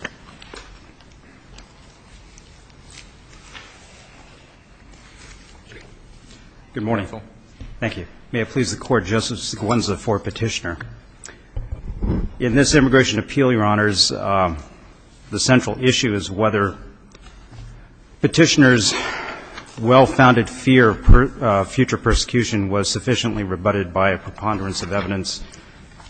Good morning. Thank you. May it please the Court, Justice Gwendolyn for Petitioner. In this Immigration Appeal, Your Honors, the central issue is whether Petitioner's well-founded fear of future persecution was sufficiently rebutted by a preponderance of evidence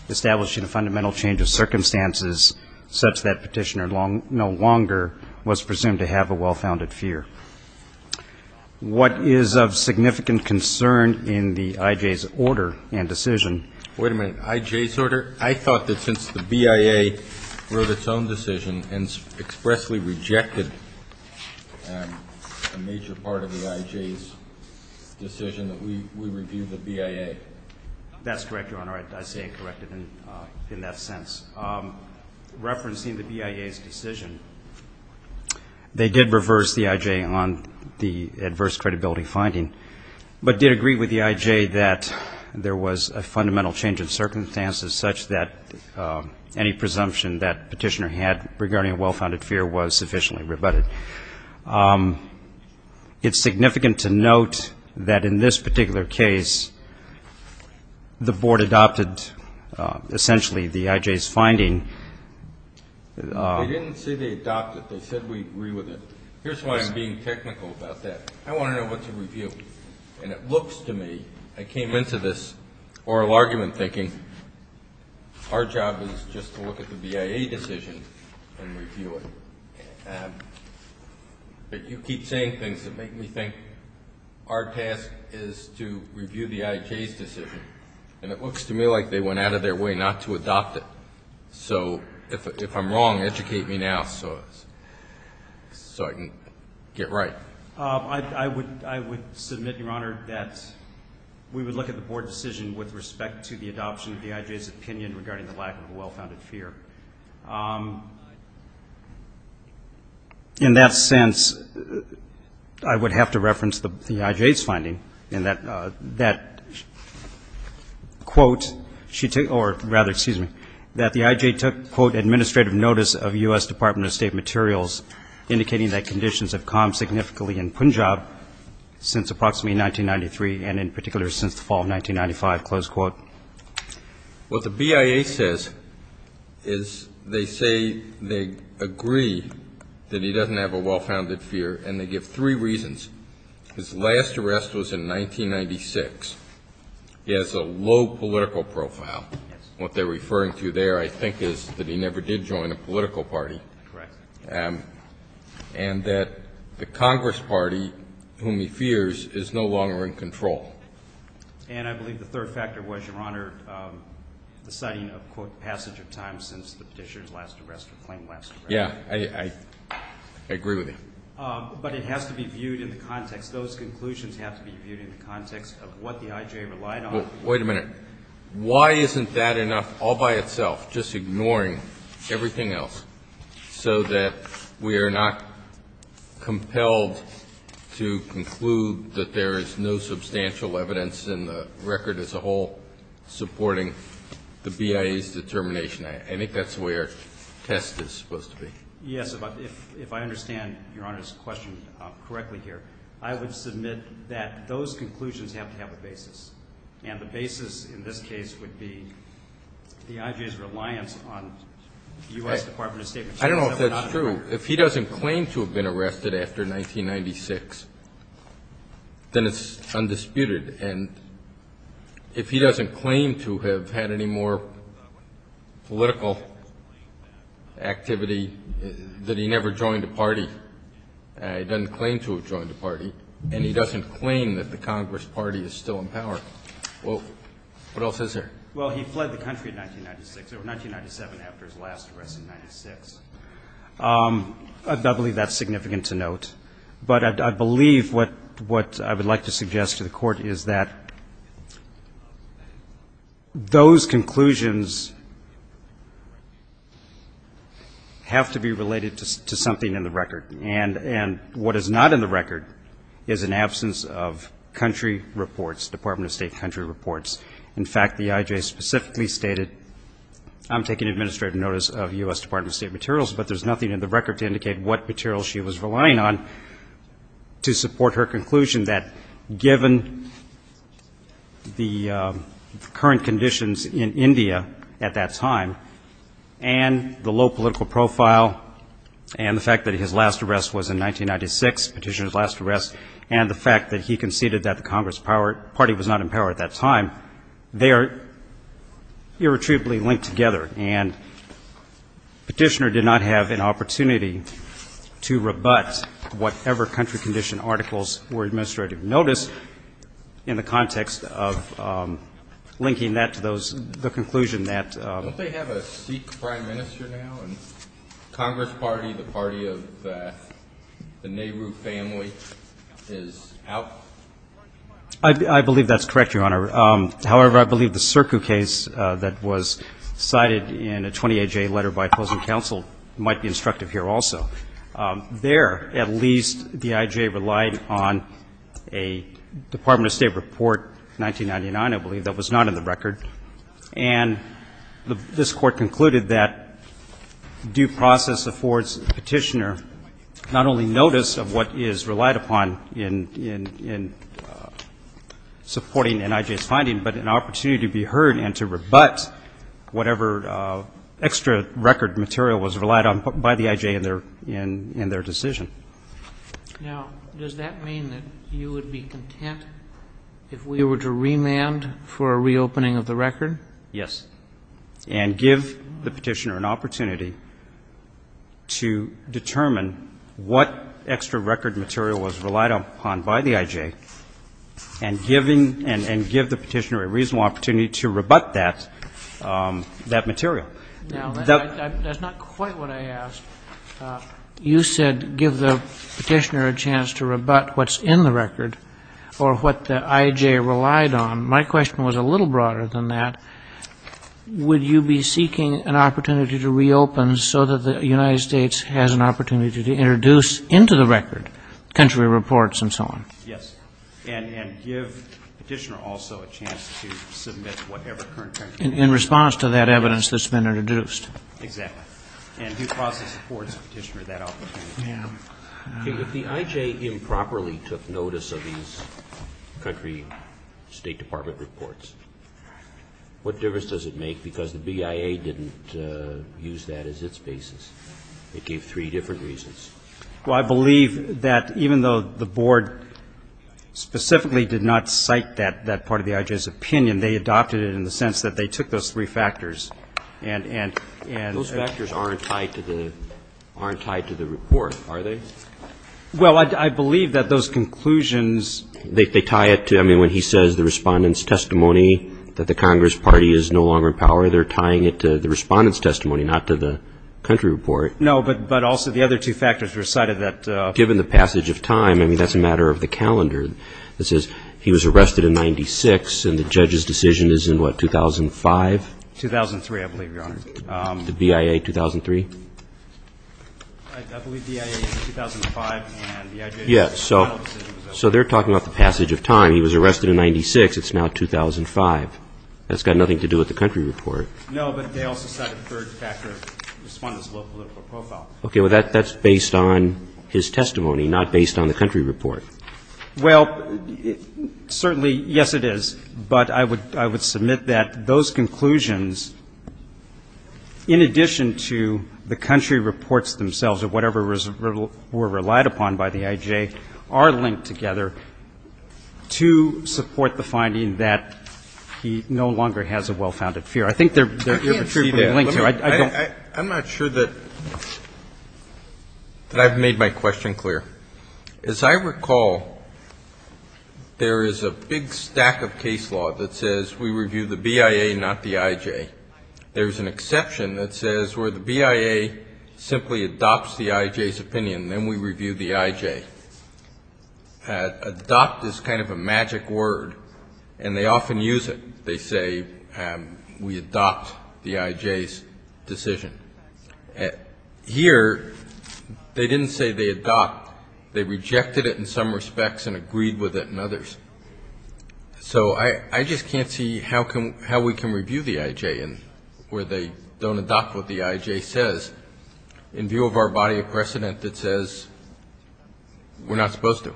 establishing a fundamental change of circumstances such that Petitioner no longer was presumed to have a well-founded fear. What is of significant concern in the IJ's order and decision? Wait a minute. IJ's order? I thought that since the BIA wrote its own decision and expressly rejected a major part of the IJ's decision, that we review the BIA. That's correct, Your Honor. I say it corrected in that sense. Referencing the BIA's decision, they did reverse the IJ on the adverse credibility finding, but did agree with the IJ that there was a fundamental change of circumstances such that any presumption that Petitioner had regarding a well-founded fear was sufficiently rebutted. It's significant to note that in this particular case, the Board adopted essentially the IJ's finding. They didn't say they adopted it. They said we agree with it. Here's why I'm being technical about that. I want to know what to review. And it looks to me, I came into this oral argument thinking, our job is just to look at the BIA decision and review it. But you keep saying things that make me think our task is to review the IJ's decision. And it looks to me like they went out of their way not to adopt it. So if I'm wrong, educate me now so I can get right. I would submit, Your Honor, that we would look at the Board decision with respect to the adoption of the IJ's opinion regarding the lack of a well-founded fear. In that sense, I would have to reference the IJ's finding in that quote, or rather, excuse me, that the IJ took, quote, administrative notice of U.S. Department of State materials indicating that conditions have calmed significantly in Punjab since approximately 1993 and in particular since the fall of 1995, close quote. What the BIA says is they say they agree that he doesn't have a well-founded fear, and they give three reasons. His last arrest was in 1996. He has a low political profile. What they're referring to there, I think, is that he never did join a political party. Correct. And that the Congress party, whom he fears, is no longer in control. And I believe the third factor was, Your Honor, the citing of, quote, passage of time since the Petitioner's last arrest or claimed last arrest. Yeah. I agree with you. But it has to be viewed in the context. Those conclusions have to be viewed in the context of what the IJ relied on. So wait a minute. Why isn't that enough all by itself, just ignoring everything else, so that we are not compelled to conclude that there is no substantial evidence in the record as a whole supporting the BIA's determination? I think that's the way our test is supposed to be. Yes. If I understand Your Honor's question correctly here, I would submit that those in this case would be the IJ's reliance on the U.S. Department of State. I don't know if that's true. If he doesn't claim to have been arrested after 1996, then it's undisputed. And if he doesn't claim to have had any more political activity that he never joined a party, he doesn't claim to have joined a party, and he doesn't claim that the Congress party is still in power. What else is there? Well, he fled the country in 1996, or 1997, after his last arrest in 1996. I believe that's significant to note. But I believe what I would like to suggest to the Court is that those conclusions have to be related to something in the record. And what is not in the record is an absence of country reports, Department of State country reports. In fact, the IJ specifically stated, I'm taking administrative notice of U.S. Department of State materials, but there's nothing in the record to indicate what materials she was relying on to support her conclusion that given the current conditions in India at that time, and the fact that he conceded that the Congress party was not in power at that time, they are irretrievably linked together. And Petitioner did not have an opportunity to rebut whatever country condition articles were administrative notice in the context of linking that to the conclusion that... Don't they have a Sikh prime minister now, and Congress party, the party of the Nehru family, is out? I believe that's correct, Your Honor. However, I believe the CIRCU case that was cited in a 28-J letter by opposing counsel might be instructive here also. There, at least, the IJ relied on a Department of State report, 1999, I believe, that was not in the record. And this Court concluded that due process affords Petitioner not only notice of what is relied upon in supporting an IJ's finding, but an opportunity to be heard and to rebut whatever extra record material was relied on by the IJ in their decision. Now, does that mean that you would be content if we were to remand for a reopening of the record? Yes. And give the Petitioner an opportunity to determine what extra record material was relied upon by the IJ, and give the Petitioner a reasonable opportunity to rebut that material. Now, that's not quite what I asked. You said give the Petitioner a chance to rebut what's in the record, or what the IJ relied on. My question was a little broader than that. Would you be seeking an opportunity to reopen so that the United States has an opportunity to introduce into the record country reports and so on? Yes. And give Petitioner also a chance to submit whatever current country In response to that evidence that's been introduced. Exactly. And due process affords Petitioner that opportunity. If the IJ improperly took notice of these country State Department reports, what difference does it make? Because the BIA didn't use that as its basis. It gave three different reasons. Well, I believe that even though the Board specifically did not cite that part of the IJ's opinion, they adopted it in the sense that they took those three factors and Those factors aren't tied to the report, are they? Well, I believe that those conclusions They tie it to, I mean, when he says the Respondent's testimony that the Congress Party is no longer in power, they're tying it to the Respondent's testimony, not to the country report. No, but also the other two factors were cited that Given the passage of time, I mean, that's a matter of the calendar. It says he was arrested in 96 and the judge's decision is in what, 2005? 2003, I believe, Your Honor. The BIA 2003? I believe BIA is 2005 and the IJ's final decision was in 2006. Yes. So they're talking about the passage of time. He was arrested in 96. It's now 2005. That's got nothing to do with the country report. No, but they also cite a third factor, Respondent's low political profile. Okay. Well, that's based on his testimony, not based on the country report. Well, certainly, yes, it is, but I would submit that those conclusions, in addition to the country reports themselves or whatever were relied upon by the IJ, are linked together to support the finding that he no longer has a well-founded fear. I think they're I'm not sure that I've made my question clear. As I recall, there is a big stack of case law that says we review the BIA, not the IJ. There's an exception that says where the BIA simply adopts the IJ's opinion, then we review the IJ. Adopt is kind of a magic word, and they often use it. They say we adopt the IJ's decision. Here, they didn't say they adopt. They rejected it in some respects and agreed with it in others. So I just can't see how we can review the IJ where they don't adopt what the IJ says in view of our body of precedent that says we're not supposed to.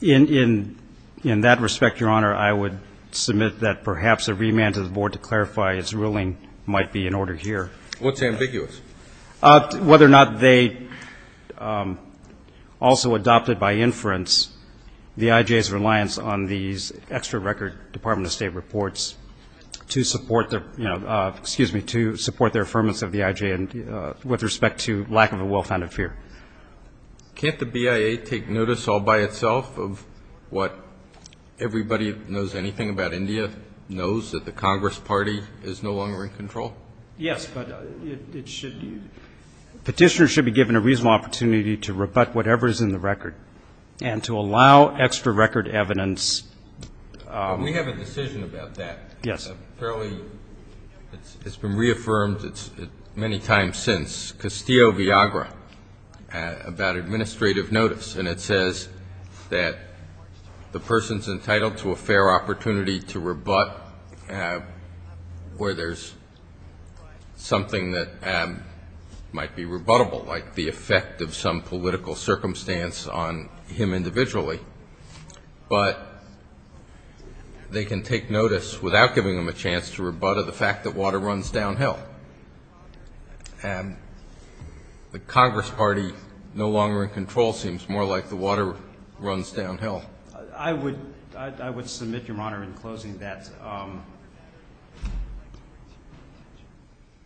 In that respect, Your Honor, I would submit that perhaps a remand to the Board to clarify its ruling might be in order here. What's ambiguous? Whether or not they also adopted by inference the IJ's reliance on these extra record Department of State reports to support their, excuse me, to support their affirmance of the IJ with respect to lack of a well-founded fear. Yes, but it should be. Petitioners should be given a reasonable opportunity to rebut whatever is in the record, and to allow extra record evidence. We have a decision about that. It's been reaffirmed many times since, Castillo-Villagra, about administrative notice, and it says that the person's entitled to a fair opportunity to rebut where there's some sort of bias. Something that might be rebuttable, like the effect of some political circumstance on him individually. But they can take notice without giving them a chance to rebut the fact that water runs downhill. And the Congress party no longer in control seems more like the water runs downhill. I would submit, Your Honor, in closing, that the IJ's reliance on the Board to clarify its ruling might be in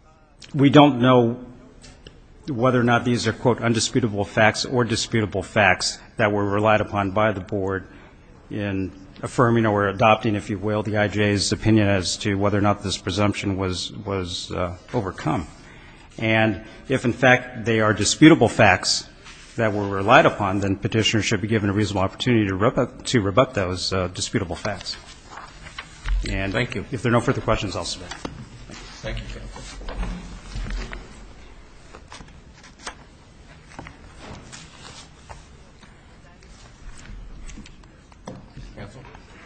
order here. We don't know whether or not these are, quote, undisputable facts or disputable facts that were relied upon by the Board in affirming or adopting, if you will, the IJ's opinion as to whether or not this presumption was overcome. And if, in fact, they are disputable facts that were relied upon, then Petitioners should be given a reasonable opportunity to rebut those disputable facts. And if there are no further questions, I'll submit.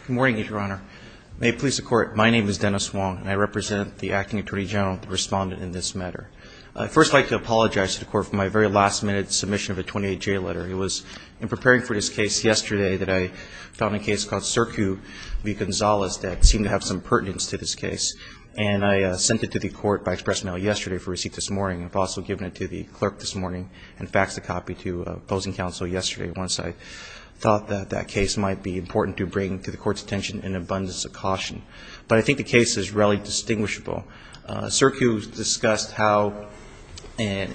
Good morning, Your Honor. May it please the Court, my name is Dennis Wong, and I represent the Acting Attorney General, the Respondent in this matter. I'd first like to apologize to the Court for my very last-minute submission of a 28-J letter. It was in preparing for this case yesterday that I found a case called Circu v. Gonzalez that seemed to have some pertinence to this case. And I sent it to the Court by express mail yesterday for receipt this morning, and I've also given it to the clerk this morning and faxed a copy to opposing counsel yesterday once I thought that that case might be important to bring to the Court's attention in abundance of caution. But I think the case is relatively distinguishable. Circu discussed how an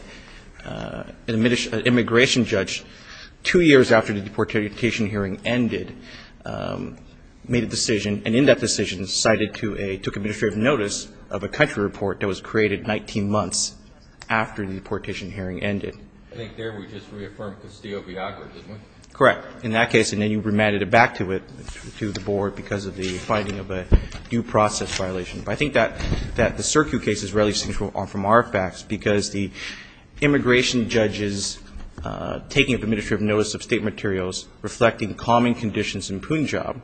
immigration judge, two years after the deportation hearing ended, made a decision, and in that decision cited to a – took administrative notice of a country report that was created 19 months after the deportation hearing ended. I think there we just reaffirmed Castillo v. Acqua, didn't we? Correct, in that case, and then you remanded it back to it, to the Board, because of the finding of a due process violation. But I think that the Circu case is relatively distinguishable from our facts because the immigration judge's taking of administrative notice of State materials reflecting common conditions in Punjab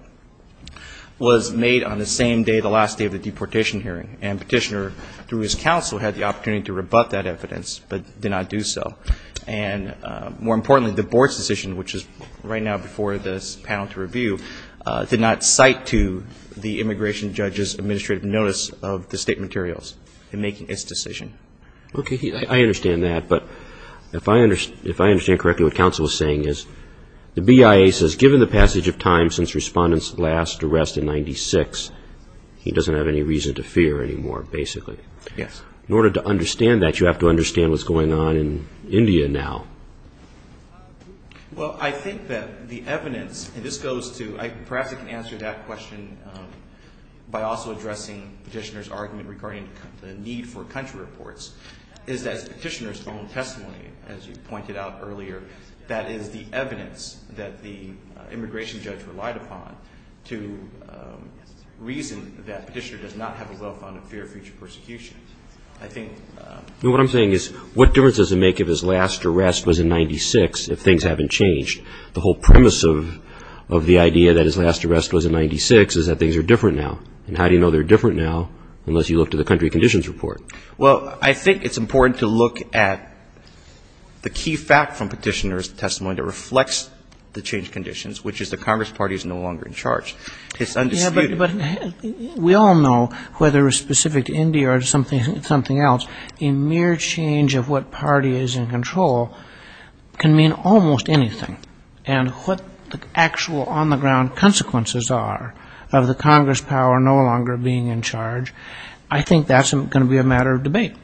was made on the same day, the last day of the deportation hearing, and Petitioner, through his counsel, had the opportunity to rebut that evidence but did not do so, and more importantly, the Board's decision, which is right now before this panel to review, did not cite to the immigration judge's administrative notice of the State materials in making its decision. Okay, I understand that, but if I understand correctly, what counsel is saying is the BIA says given the passage of time since Respondent's last arrest in 1996, he doesn't have any reason to fear anymore, basically. Yes. In order to understand that, you have to understand what's going on in India now. Well, I think that the evidence, and this goes to, perhaps I can answer that question by also addressing Petitioner's argument regarding the need for country reports, is that Petitioner's own testimony, as you pointed out earlier, that is the evidence that the immigration judge relied upon to reason that Petitioner does not have a well-founded fear of future persecution. What I'm saying is what difference does it make if his last arrest was in 1996 if things haven't changed? The whole premise of the idea that his last arrest was in 1996 is that things are different now. And how do you know they're different now unless you look to the country conditions report? Well, I think it's important to look at the key fact from Petitioner's testimony that reflects the changed conditions, which is the Congress Party is no longer in charge. It's undisputed. But we all know, whether it's specific to India or something else, a mere change of what party is in control can mean almost anything. And what the actual on-the-ground consequences are of the Congress power no longer being in charge, I think that's going to be a matter of debate.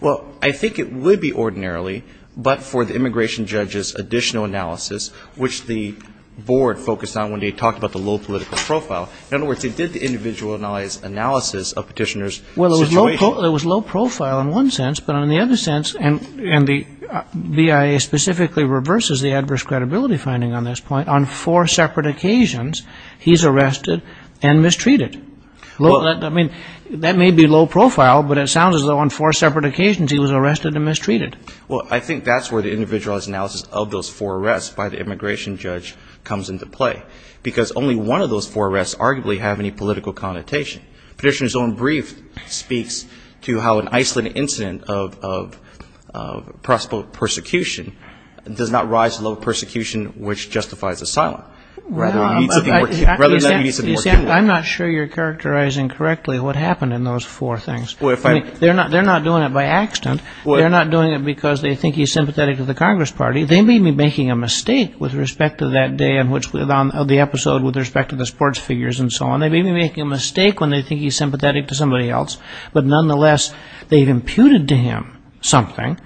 Well, I think it would be ordinarily, but for the immigration judge's additional analysis, which the board focused on when they talked about the low political profile, in other words, they did the individualized analysis of Petitioner's situation. Well, it was low profile in one sense, but in the other sense, and the BIA specifically reverses the adverse credibility finding on this point, on four separate occasions, he's arrested and mistreated. I mean, that may be low profile, but it sounds as though on four separate occasions he was arrested and mistreated. Well, I think that's where the individualized analysis of those four arrests by the immigration judge comes into play. Because only one of those four arrests arguably have any political connotation. Petitioner's own brief speaks to how an isolated incident of possible persecution does not rise to the level of persecution which justifies asylum, rather than meets a more general... I'm not sure you're characterizing correctly what happened in those four things. I mean, they're not doing it by accident. They're not doing it because they think he's sympathetic to the Congress Party. They may be making a mistake with respect to that day of the episode with respect to the sports figures and so on. They may be making a mistake when they think he's sympathetic to somebody else. But nonetheless, they've imputed to him something.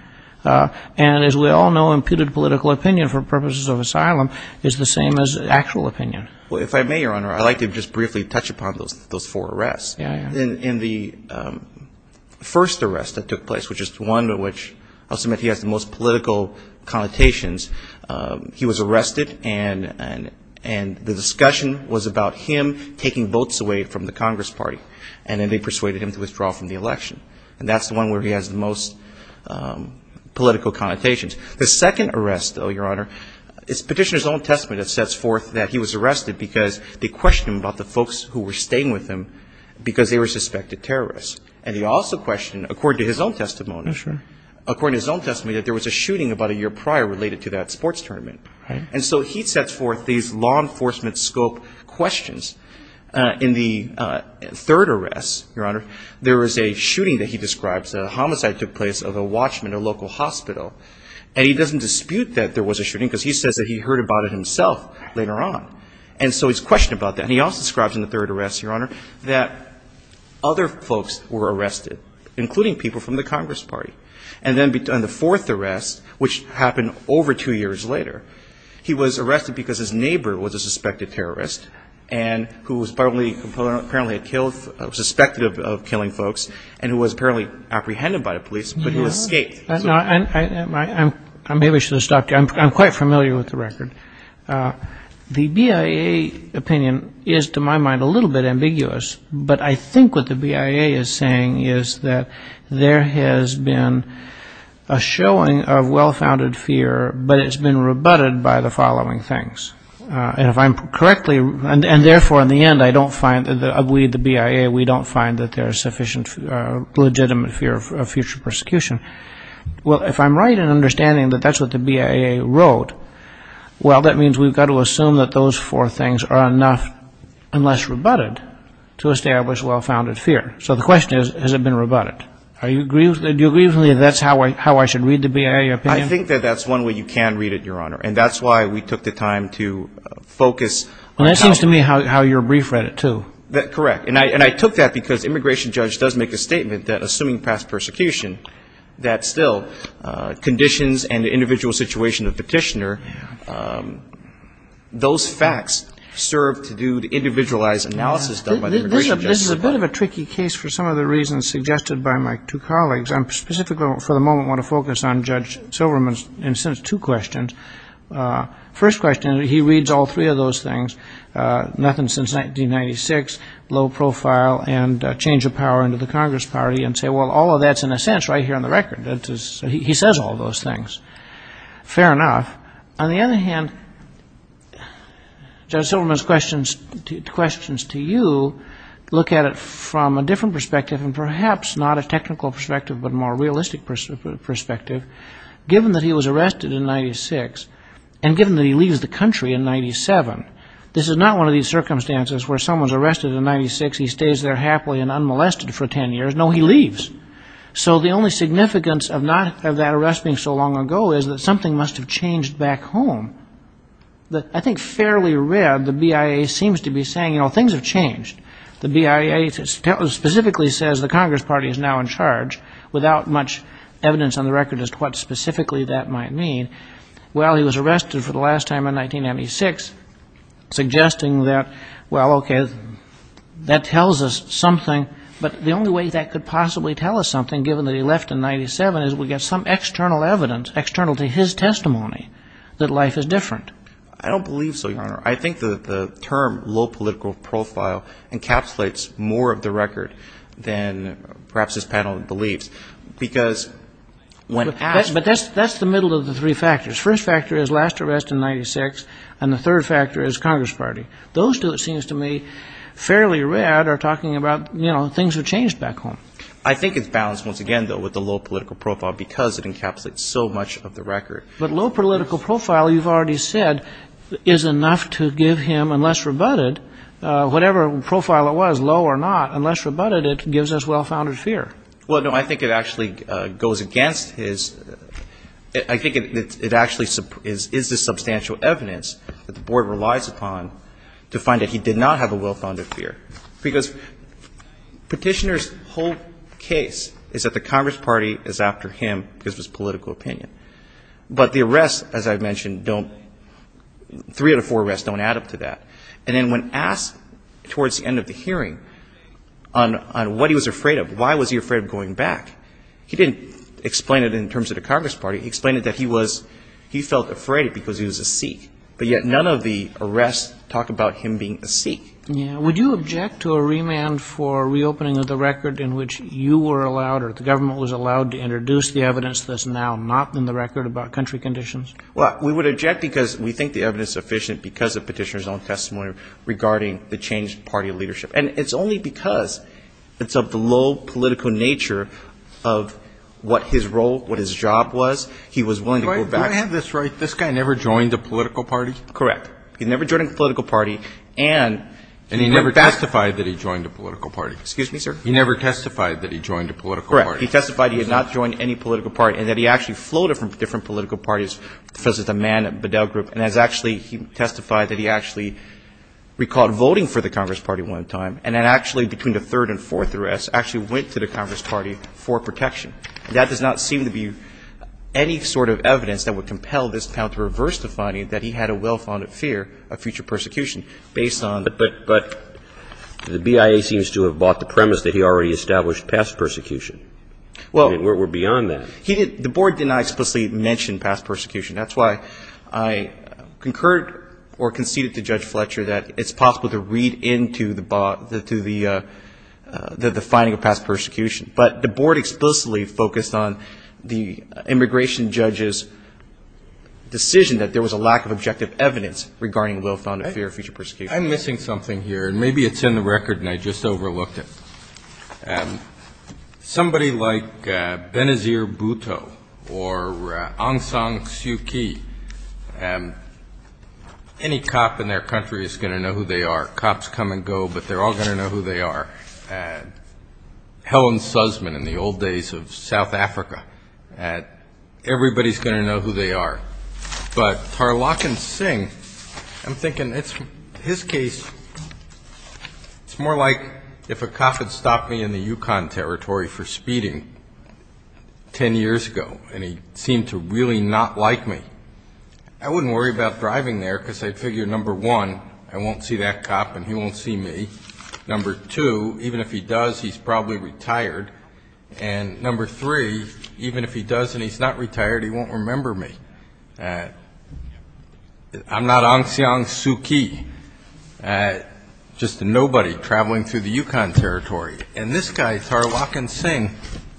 And as we all know, imputed political opinion for purposes of asylum is the same as actual opinion. Well, if I may, Your Honor, I'd like to just briefly touch upon those four arrests. In the first arrest that took place, which is the one in which I'll submit he has the most political connotations, he was arrested and the discussion was about him taking votes away from the Congress Party. And then they persuaded him to withdraw from the election. And that's the one where he has the most political connotations. The second arrest, though, Your Honor, is Petitioner's own testament that sets forth that he was arrested because they were suspected terrorists. And he also questioned, according to his own testimony, that there was a shooting about a year prior related to that sports tournament. And so he sets forth these law enforcement scope questions. In the third arrest, Your Honor, there was a shooting that he describes, a homicide took place of a watchman at a local hospital. And he doesn't dispute that there was a shooting because he says that he heard about it himself later on. And so he's questioned about that. And he also describes in the third arrest, Your Honor, that other folks were arrested, including people from the Congress Party. And then in the fourth arrest, which happened over two years later, he was arrested because his neighbor was a suspected terrorist and who was apparently killed, suspected of killing folks, and who was apparently apprehended by the police, but he escaped. I maybe should have stopped you. I'm quite familiar with the record. The BIA opinion is, to my mind, a little bit ambiguous. But I think what the BIA is saying is that there has been a showing of well-founded fear, but it's been rebutted by the following things. And if I'm correctly, and therefore, in the end, I don't find that we, the BIA, we don't find that there's sufficient legitimate fear of future persecution, well, if I'm right in understanding that that's what the BIA wrote, well, that means we've got to assume that those four things are enough, unless rebutted, to establish well-founded fear. So the question is, has it been rebutted? Do you agree with me that that's how I should read the BIA opinion? I think that that's one way you can read it, Your Honor. And that's why we took the time to focus. Well, that seems to me how your brief read it, too. Correct. And I took that because immigration judge does make a statement that, assuming past persecution, that still, conditions and the individual situation of petitioner, those facts serve to do the individualized analysis done by the immigration judge. This is a bit of a tricky case for some of the reasons suggested by my two colleagues. I specifically, for the moment, want to focus on Judge Silverman's two questions. First question, he reads all three of those things, nothing since 1996, low profile, and change of power into the Congress Party, and say, well, all of that's, in a sense, right here on the record. He says all those things. Fair enough. On the other hand, Judge Silverman's questions to you look at it from a different perspective, and perhaps not a technical perspective, but a more realistic perspective. Given that he was arrested in 96, and given that he leaves the country in 97, this is not one of these circumstances where someone's arrested in 96, he stays there happily and unmolested for 10 years. No, he leaves. So the only significance of that arrest being so long ago is that something must have changed back home. I think fairly read, the BIA seems to be saying, you know, things have changed. The BIA specifically says the Congress Party is now in charge, without much evidence on the record as to why. And what specifically that might mean. Well, he was arrested for the last time in 1996, suggesting that, well, okay, that tells us something. But the only way that could possibly tell us something, given that he left in 97, is we get some external evidence, external to his testimony, that life is different. I don't believe so, Your Honor. I think the term low political profile encapsulates more of the record than perhaps this panel believes. Because when asked... But that's the middle of the three factors. First factor is last arrest in 96, and the third factor is Congress Party. Those two, it seems to me, fairly read, are talking about, you know, things have changed back home. I think it's balanced, once again, though, with the low political profile, because it encapsulates so much of the record. But low political profile, you've already said, is enough to give him, unless rebutted, whatever profile it was, low or not, unless rebutted, it gives us well-founded fear. Well, no, I think it actually goes against his — I think it actually is the substantial evidence that the Board relies upon to find that he did not have a well-founded fear. Because Petitioner's whole case is that the Congress Party is after him because of his political opinion. But the arrests, as I've mentioned, don't — three out of four arrests don't add up to that. And then when asked, towards the end of the hearing, on what he was afraid of, why was he afraid of going back, he didn't explain it in terms of the Congress Party. He explained it that he was — he felt afraid because he was a Sikh. But yet none of the arrests talk about him being a Sikh. Yeah. Would you object to a remand for reopening of the record in which you were allowed or the government was allowed to introduce the evidence that's now not in the record about country conditions? Well, we would object because we think the evidence is sufficient because of Petitioner's own testimony regarding the changed party leadership. And it's only because it's of the low political nature of what his role, what his job was, he was willing to go back. Do I have this right? This guy never joined a political party? Correct. He never joined a political party and he went back — And he never testified that he joined a political party? Excuse me, sir? He never testified that he joined a political party. Correct. He testified he had not joined any political party and that he actually floated from different political parties, for instance, the Mann-Bedell Group, and has actually — he testified that he actually recalled voting for the Congress Party one time and then actually, between the third and fourth arrests, actually went to the Congress Party for protection. That does not seem to be any sort of evidence that would compel this panel to reverse the finding that he had a well-founded fear of future persecution based on — But the BIA seems to have bought the premise that he already established past persecution. Well — I mean, we're beyond that. He didn't — the Board did not explicitly mention past persecution. That's why I concurred or conceded to Judge Fletcher that it's possible to read into the finding of past persecution. But the Board explicitly focused on the immigration judge's decision that there was a lack of objective evidence regarding well-founded fear of future persecution. I'm missing something here. And maybe it's in the record and I just overlooked it. Somebody like Benazir Bhutto or Aung San Suu Kyi, any cop in their country is going to know who they are. Cops come and go, but they're all going to know who they are. Helen Sussman in the old days of South Africa, everybody's going to know who they are. But Tarlakan Singh, I'm thinking his case, it's more like if a cop had stopped me in the Yukon territory for speeding 10 years ago and he seemed to really not like me, I wouldn't worry about driving there because I'd figure, number one, I won't see that cop and he won't see me. Number two, even if he does, he's probably retired. And number three, even if he does and he's not retired, he won't remember me. I'm not Aung San Suu Kyi, just a nobody traveling through the Yukon territory. And this guy, Tarlakan Singh,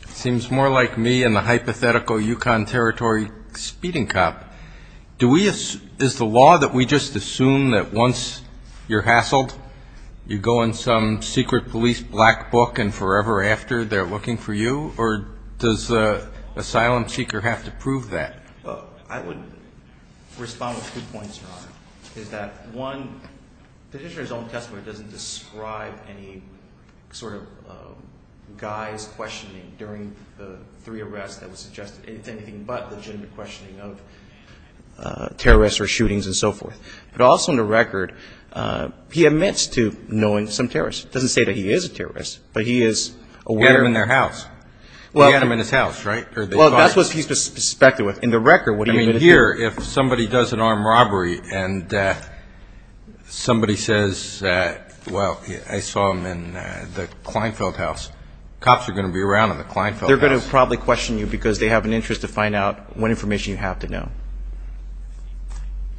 seems more like me and the hypothetical Yukon territory speeding cop. Is the law that we just assume that once you're hassled, you go in some secret police black book and forever after they're looking for you, or does the asylum seeker have to prove that? I would respond with two points, Your Honor, is that, one, the petitioner's own testimony doesn't describe any sort of guy's questioning during the three arrests that was suggested. It's anything but the gender questioning of terrorists or shootings and so forth. But also in the record, he admits to knowing some terrorists. It doesn't say that he is a terrorist, but he is aware. He had them in their house. He had them in his house, right? Well, that's what he's suspected with. In the record, what he admitted to. I mean, here, if somebody does an armed robbery and somebody says, well, I saw them in the Kleinfeld house, cops are going to be around in the Kleinfeld house. They're going to probably question you because they have an interest to find out what information you have to know.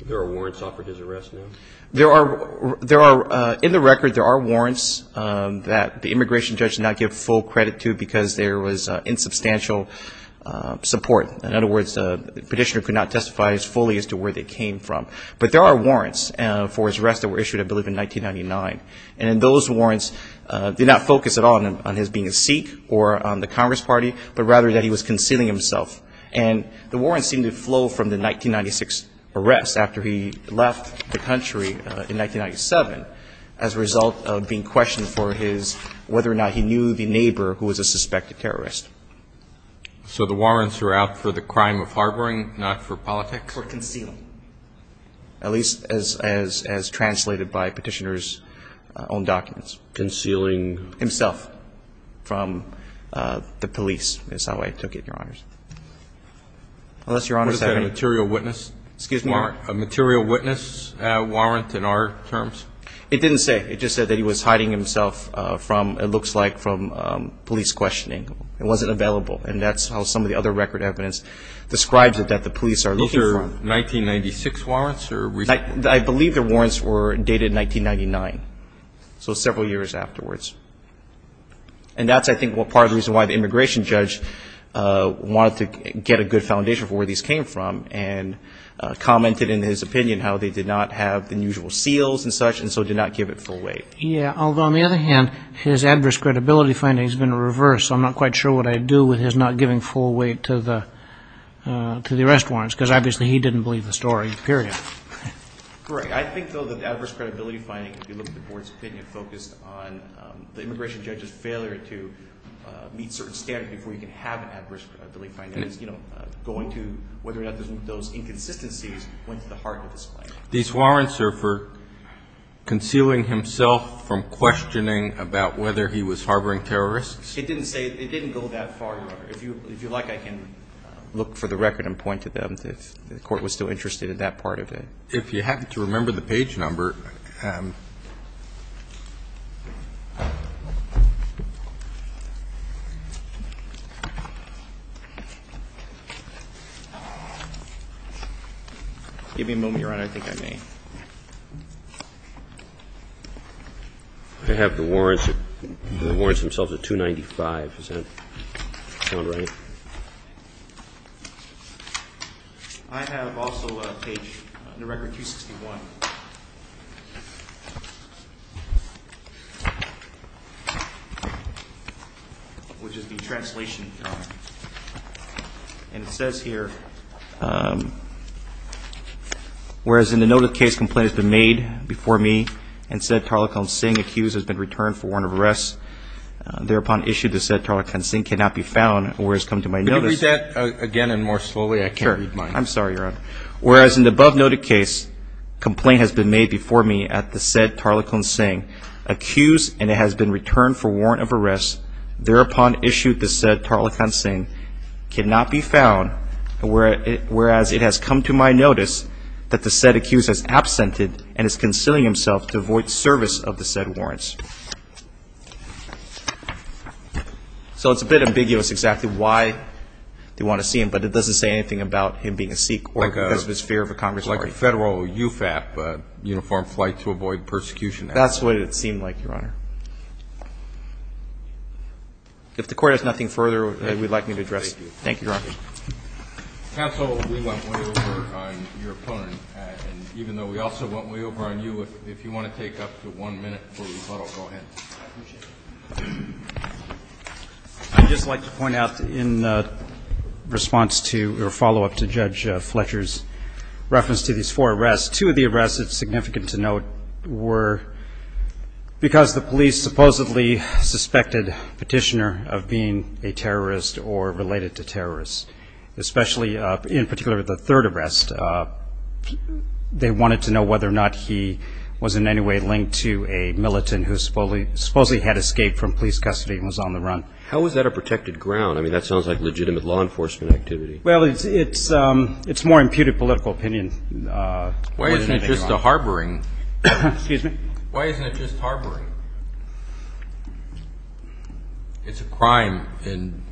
There are warrants offered for his arrest now? In the record, there are warrants that the immigration judge did not give full credit to because there was insubstantial support. In other words, the petitioner could not testify as fully as to where they came from. But there are warrants for his arrest that were issued, I believe, in 1999. And those warrants did not focus at all on his being a Sikh or on the Congress Party, but rather that he was concealing himself. And the warrants seem to flow from the 1996 arrest after he left the country in 1997 as a result of being questioned for his whether or not he knew the neighbor who was a suspected terrorist. So the warrants were out for the crime of harboring, not for politics? For concealing. At least as translated by petitioner's own documents. Concealing? Concealing himself from the police is how I took it, Your Honors. Unless Your Honors have any ---- Was that a material witness? Excuse me? A material witness warrant in our terms? It didn't say. It just said that he was hiding himself from, it looks like, from police questioning. It wasn't available. And that's how some of the other record evidence describes it, that the police are looking for him. Those are 1996 warrants or recent ones? I believe the warrants were dated 1999. So several years afterwards. And that's, I think, part of the reason why the immigration judge wanted to get a good foundation for where these came from and commented in his opinion how they did not have the usual seals and such and so did not give it full weight. Yeah, although on the other hand, his adverse credibility finding has been reversed. I'm not quite sure what I'd do with his not giving full weight to the arrest warrants because obviously he didn't believe the story, period. Right. I think, though, that the adverse credibility finding, if you look at the board's opinion, focused on the immigration judge's failure to meet certain standards before he could have an adverse credibility finding, going to whether or not those inconsistencies went to the heart of his claim. These warrants are for concealing himself from questioning about whether he was harboring terrorists? It didn't say. It didn't go that far, Your Honor. If you like, I can look for the record and point to them if the court was still interested in that part of it. If you happen to remember the page number. Give me a moment, Your Honor. I think I may. I have the warrants themselves at 295. Does that sound right? I have also a page on the record, 261, which is the translation, Your Honor. And it says here, whereas in the note of the case complaint has been made before me and said Tarlequin Singh accused has been returned for warrant of arrest, thereupon issued the said Tarlequin Singh cannot be found, whereas come to my notice. Could you read that again and more slowly? I can't read mine. I'm sorry, Your Honor. Whereas in the above noted case complaint has been made before me at the said Tarlequin Singh accused and it has been returned for warrant of arrest, thereupon issued the said Tarlequin Singh cannot be found, whereas it has come to my notice that the said accused has absented and is concealing himself to avoid service of the said warrants. So it's a bit ambiguous exactly why they want to see him, but it doesn't say anything about him being a Sikh or because of his fear of a Congress party. Like a federal UFAP, Uniform Flight to Avoid Persecution Act. That's what it seemed like, Your Honor. If the Court has nothing further that you would like me to address, thank you, Your Honor. Counsel, we went way over on your opponent. And even though we also went way over on you, if you want to take up to one minute before we follow, go ahead. I appreciate it. I'd just like to point out in response to or follow-up to Judge Fletcher's reference to these four arrests, two of the arrests that are significant to note were because the police supposedly suspected Petitioner of being a terrorist or related to terrorists, especially in particular the third arrest. They wanted to know whether or not he was in any way linked to a militant who supposedly had escaped from police custody and was on the run. How is that a protected ground? I mean, that sounds like legitimate law enforcement activity. Well, it's more imputed political opinion. Why isn't it just a harboring? Excuse me? Why isn't it just harboring? It's a crime in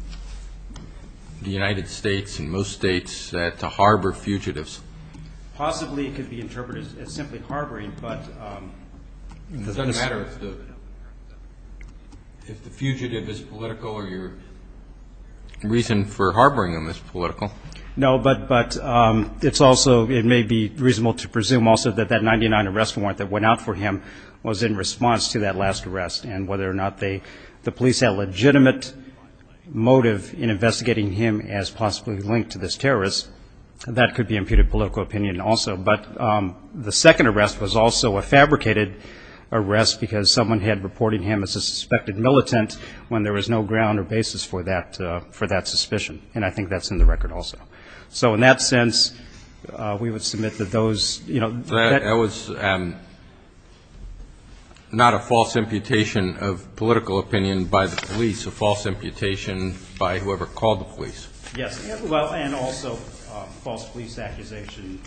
the United States and most states to harbor fugitives. Possibly it could be interpreted as simply harboring, but it doesn't matter if the fugitive is political or your reason for harboring them is political. No, but it's also it may be reasonable to presume also that that 99 arrest warrant that went out for him was in response to that last arrest and whether or not the police had legitimate motive in investigating him as possibly linked to this terrorist. That could be imputed political opinion also. But the second arrest was also a fabricated arrest because someone had reported him as a suspected militant when there was no ground or basis for that suspicion. And I think that's in the record also. So in that sense, we would submit that those, you know, that That was not a false imputation of political opinion by the police, a false imputation by whoever called the police. Yes. Well, and also false police accusation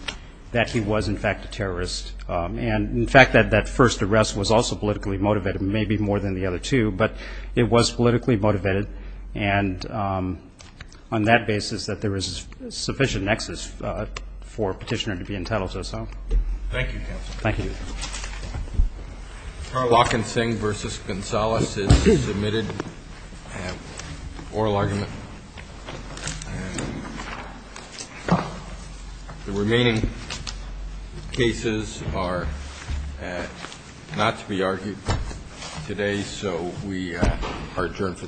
that he was, in fact, a terrorist. And, in fact, that that first arrest was also politically motivated, maybe more than the other two, but it was politically motivated. And on that basis, that there is sufficient nexus for petitioner to be entitled to. So thank you. Thank you. Walken Singh versus Gonzalez is submitted. Oral argument. The remaining cases are not to be argued today. So we are adjourned for the day.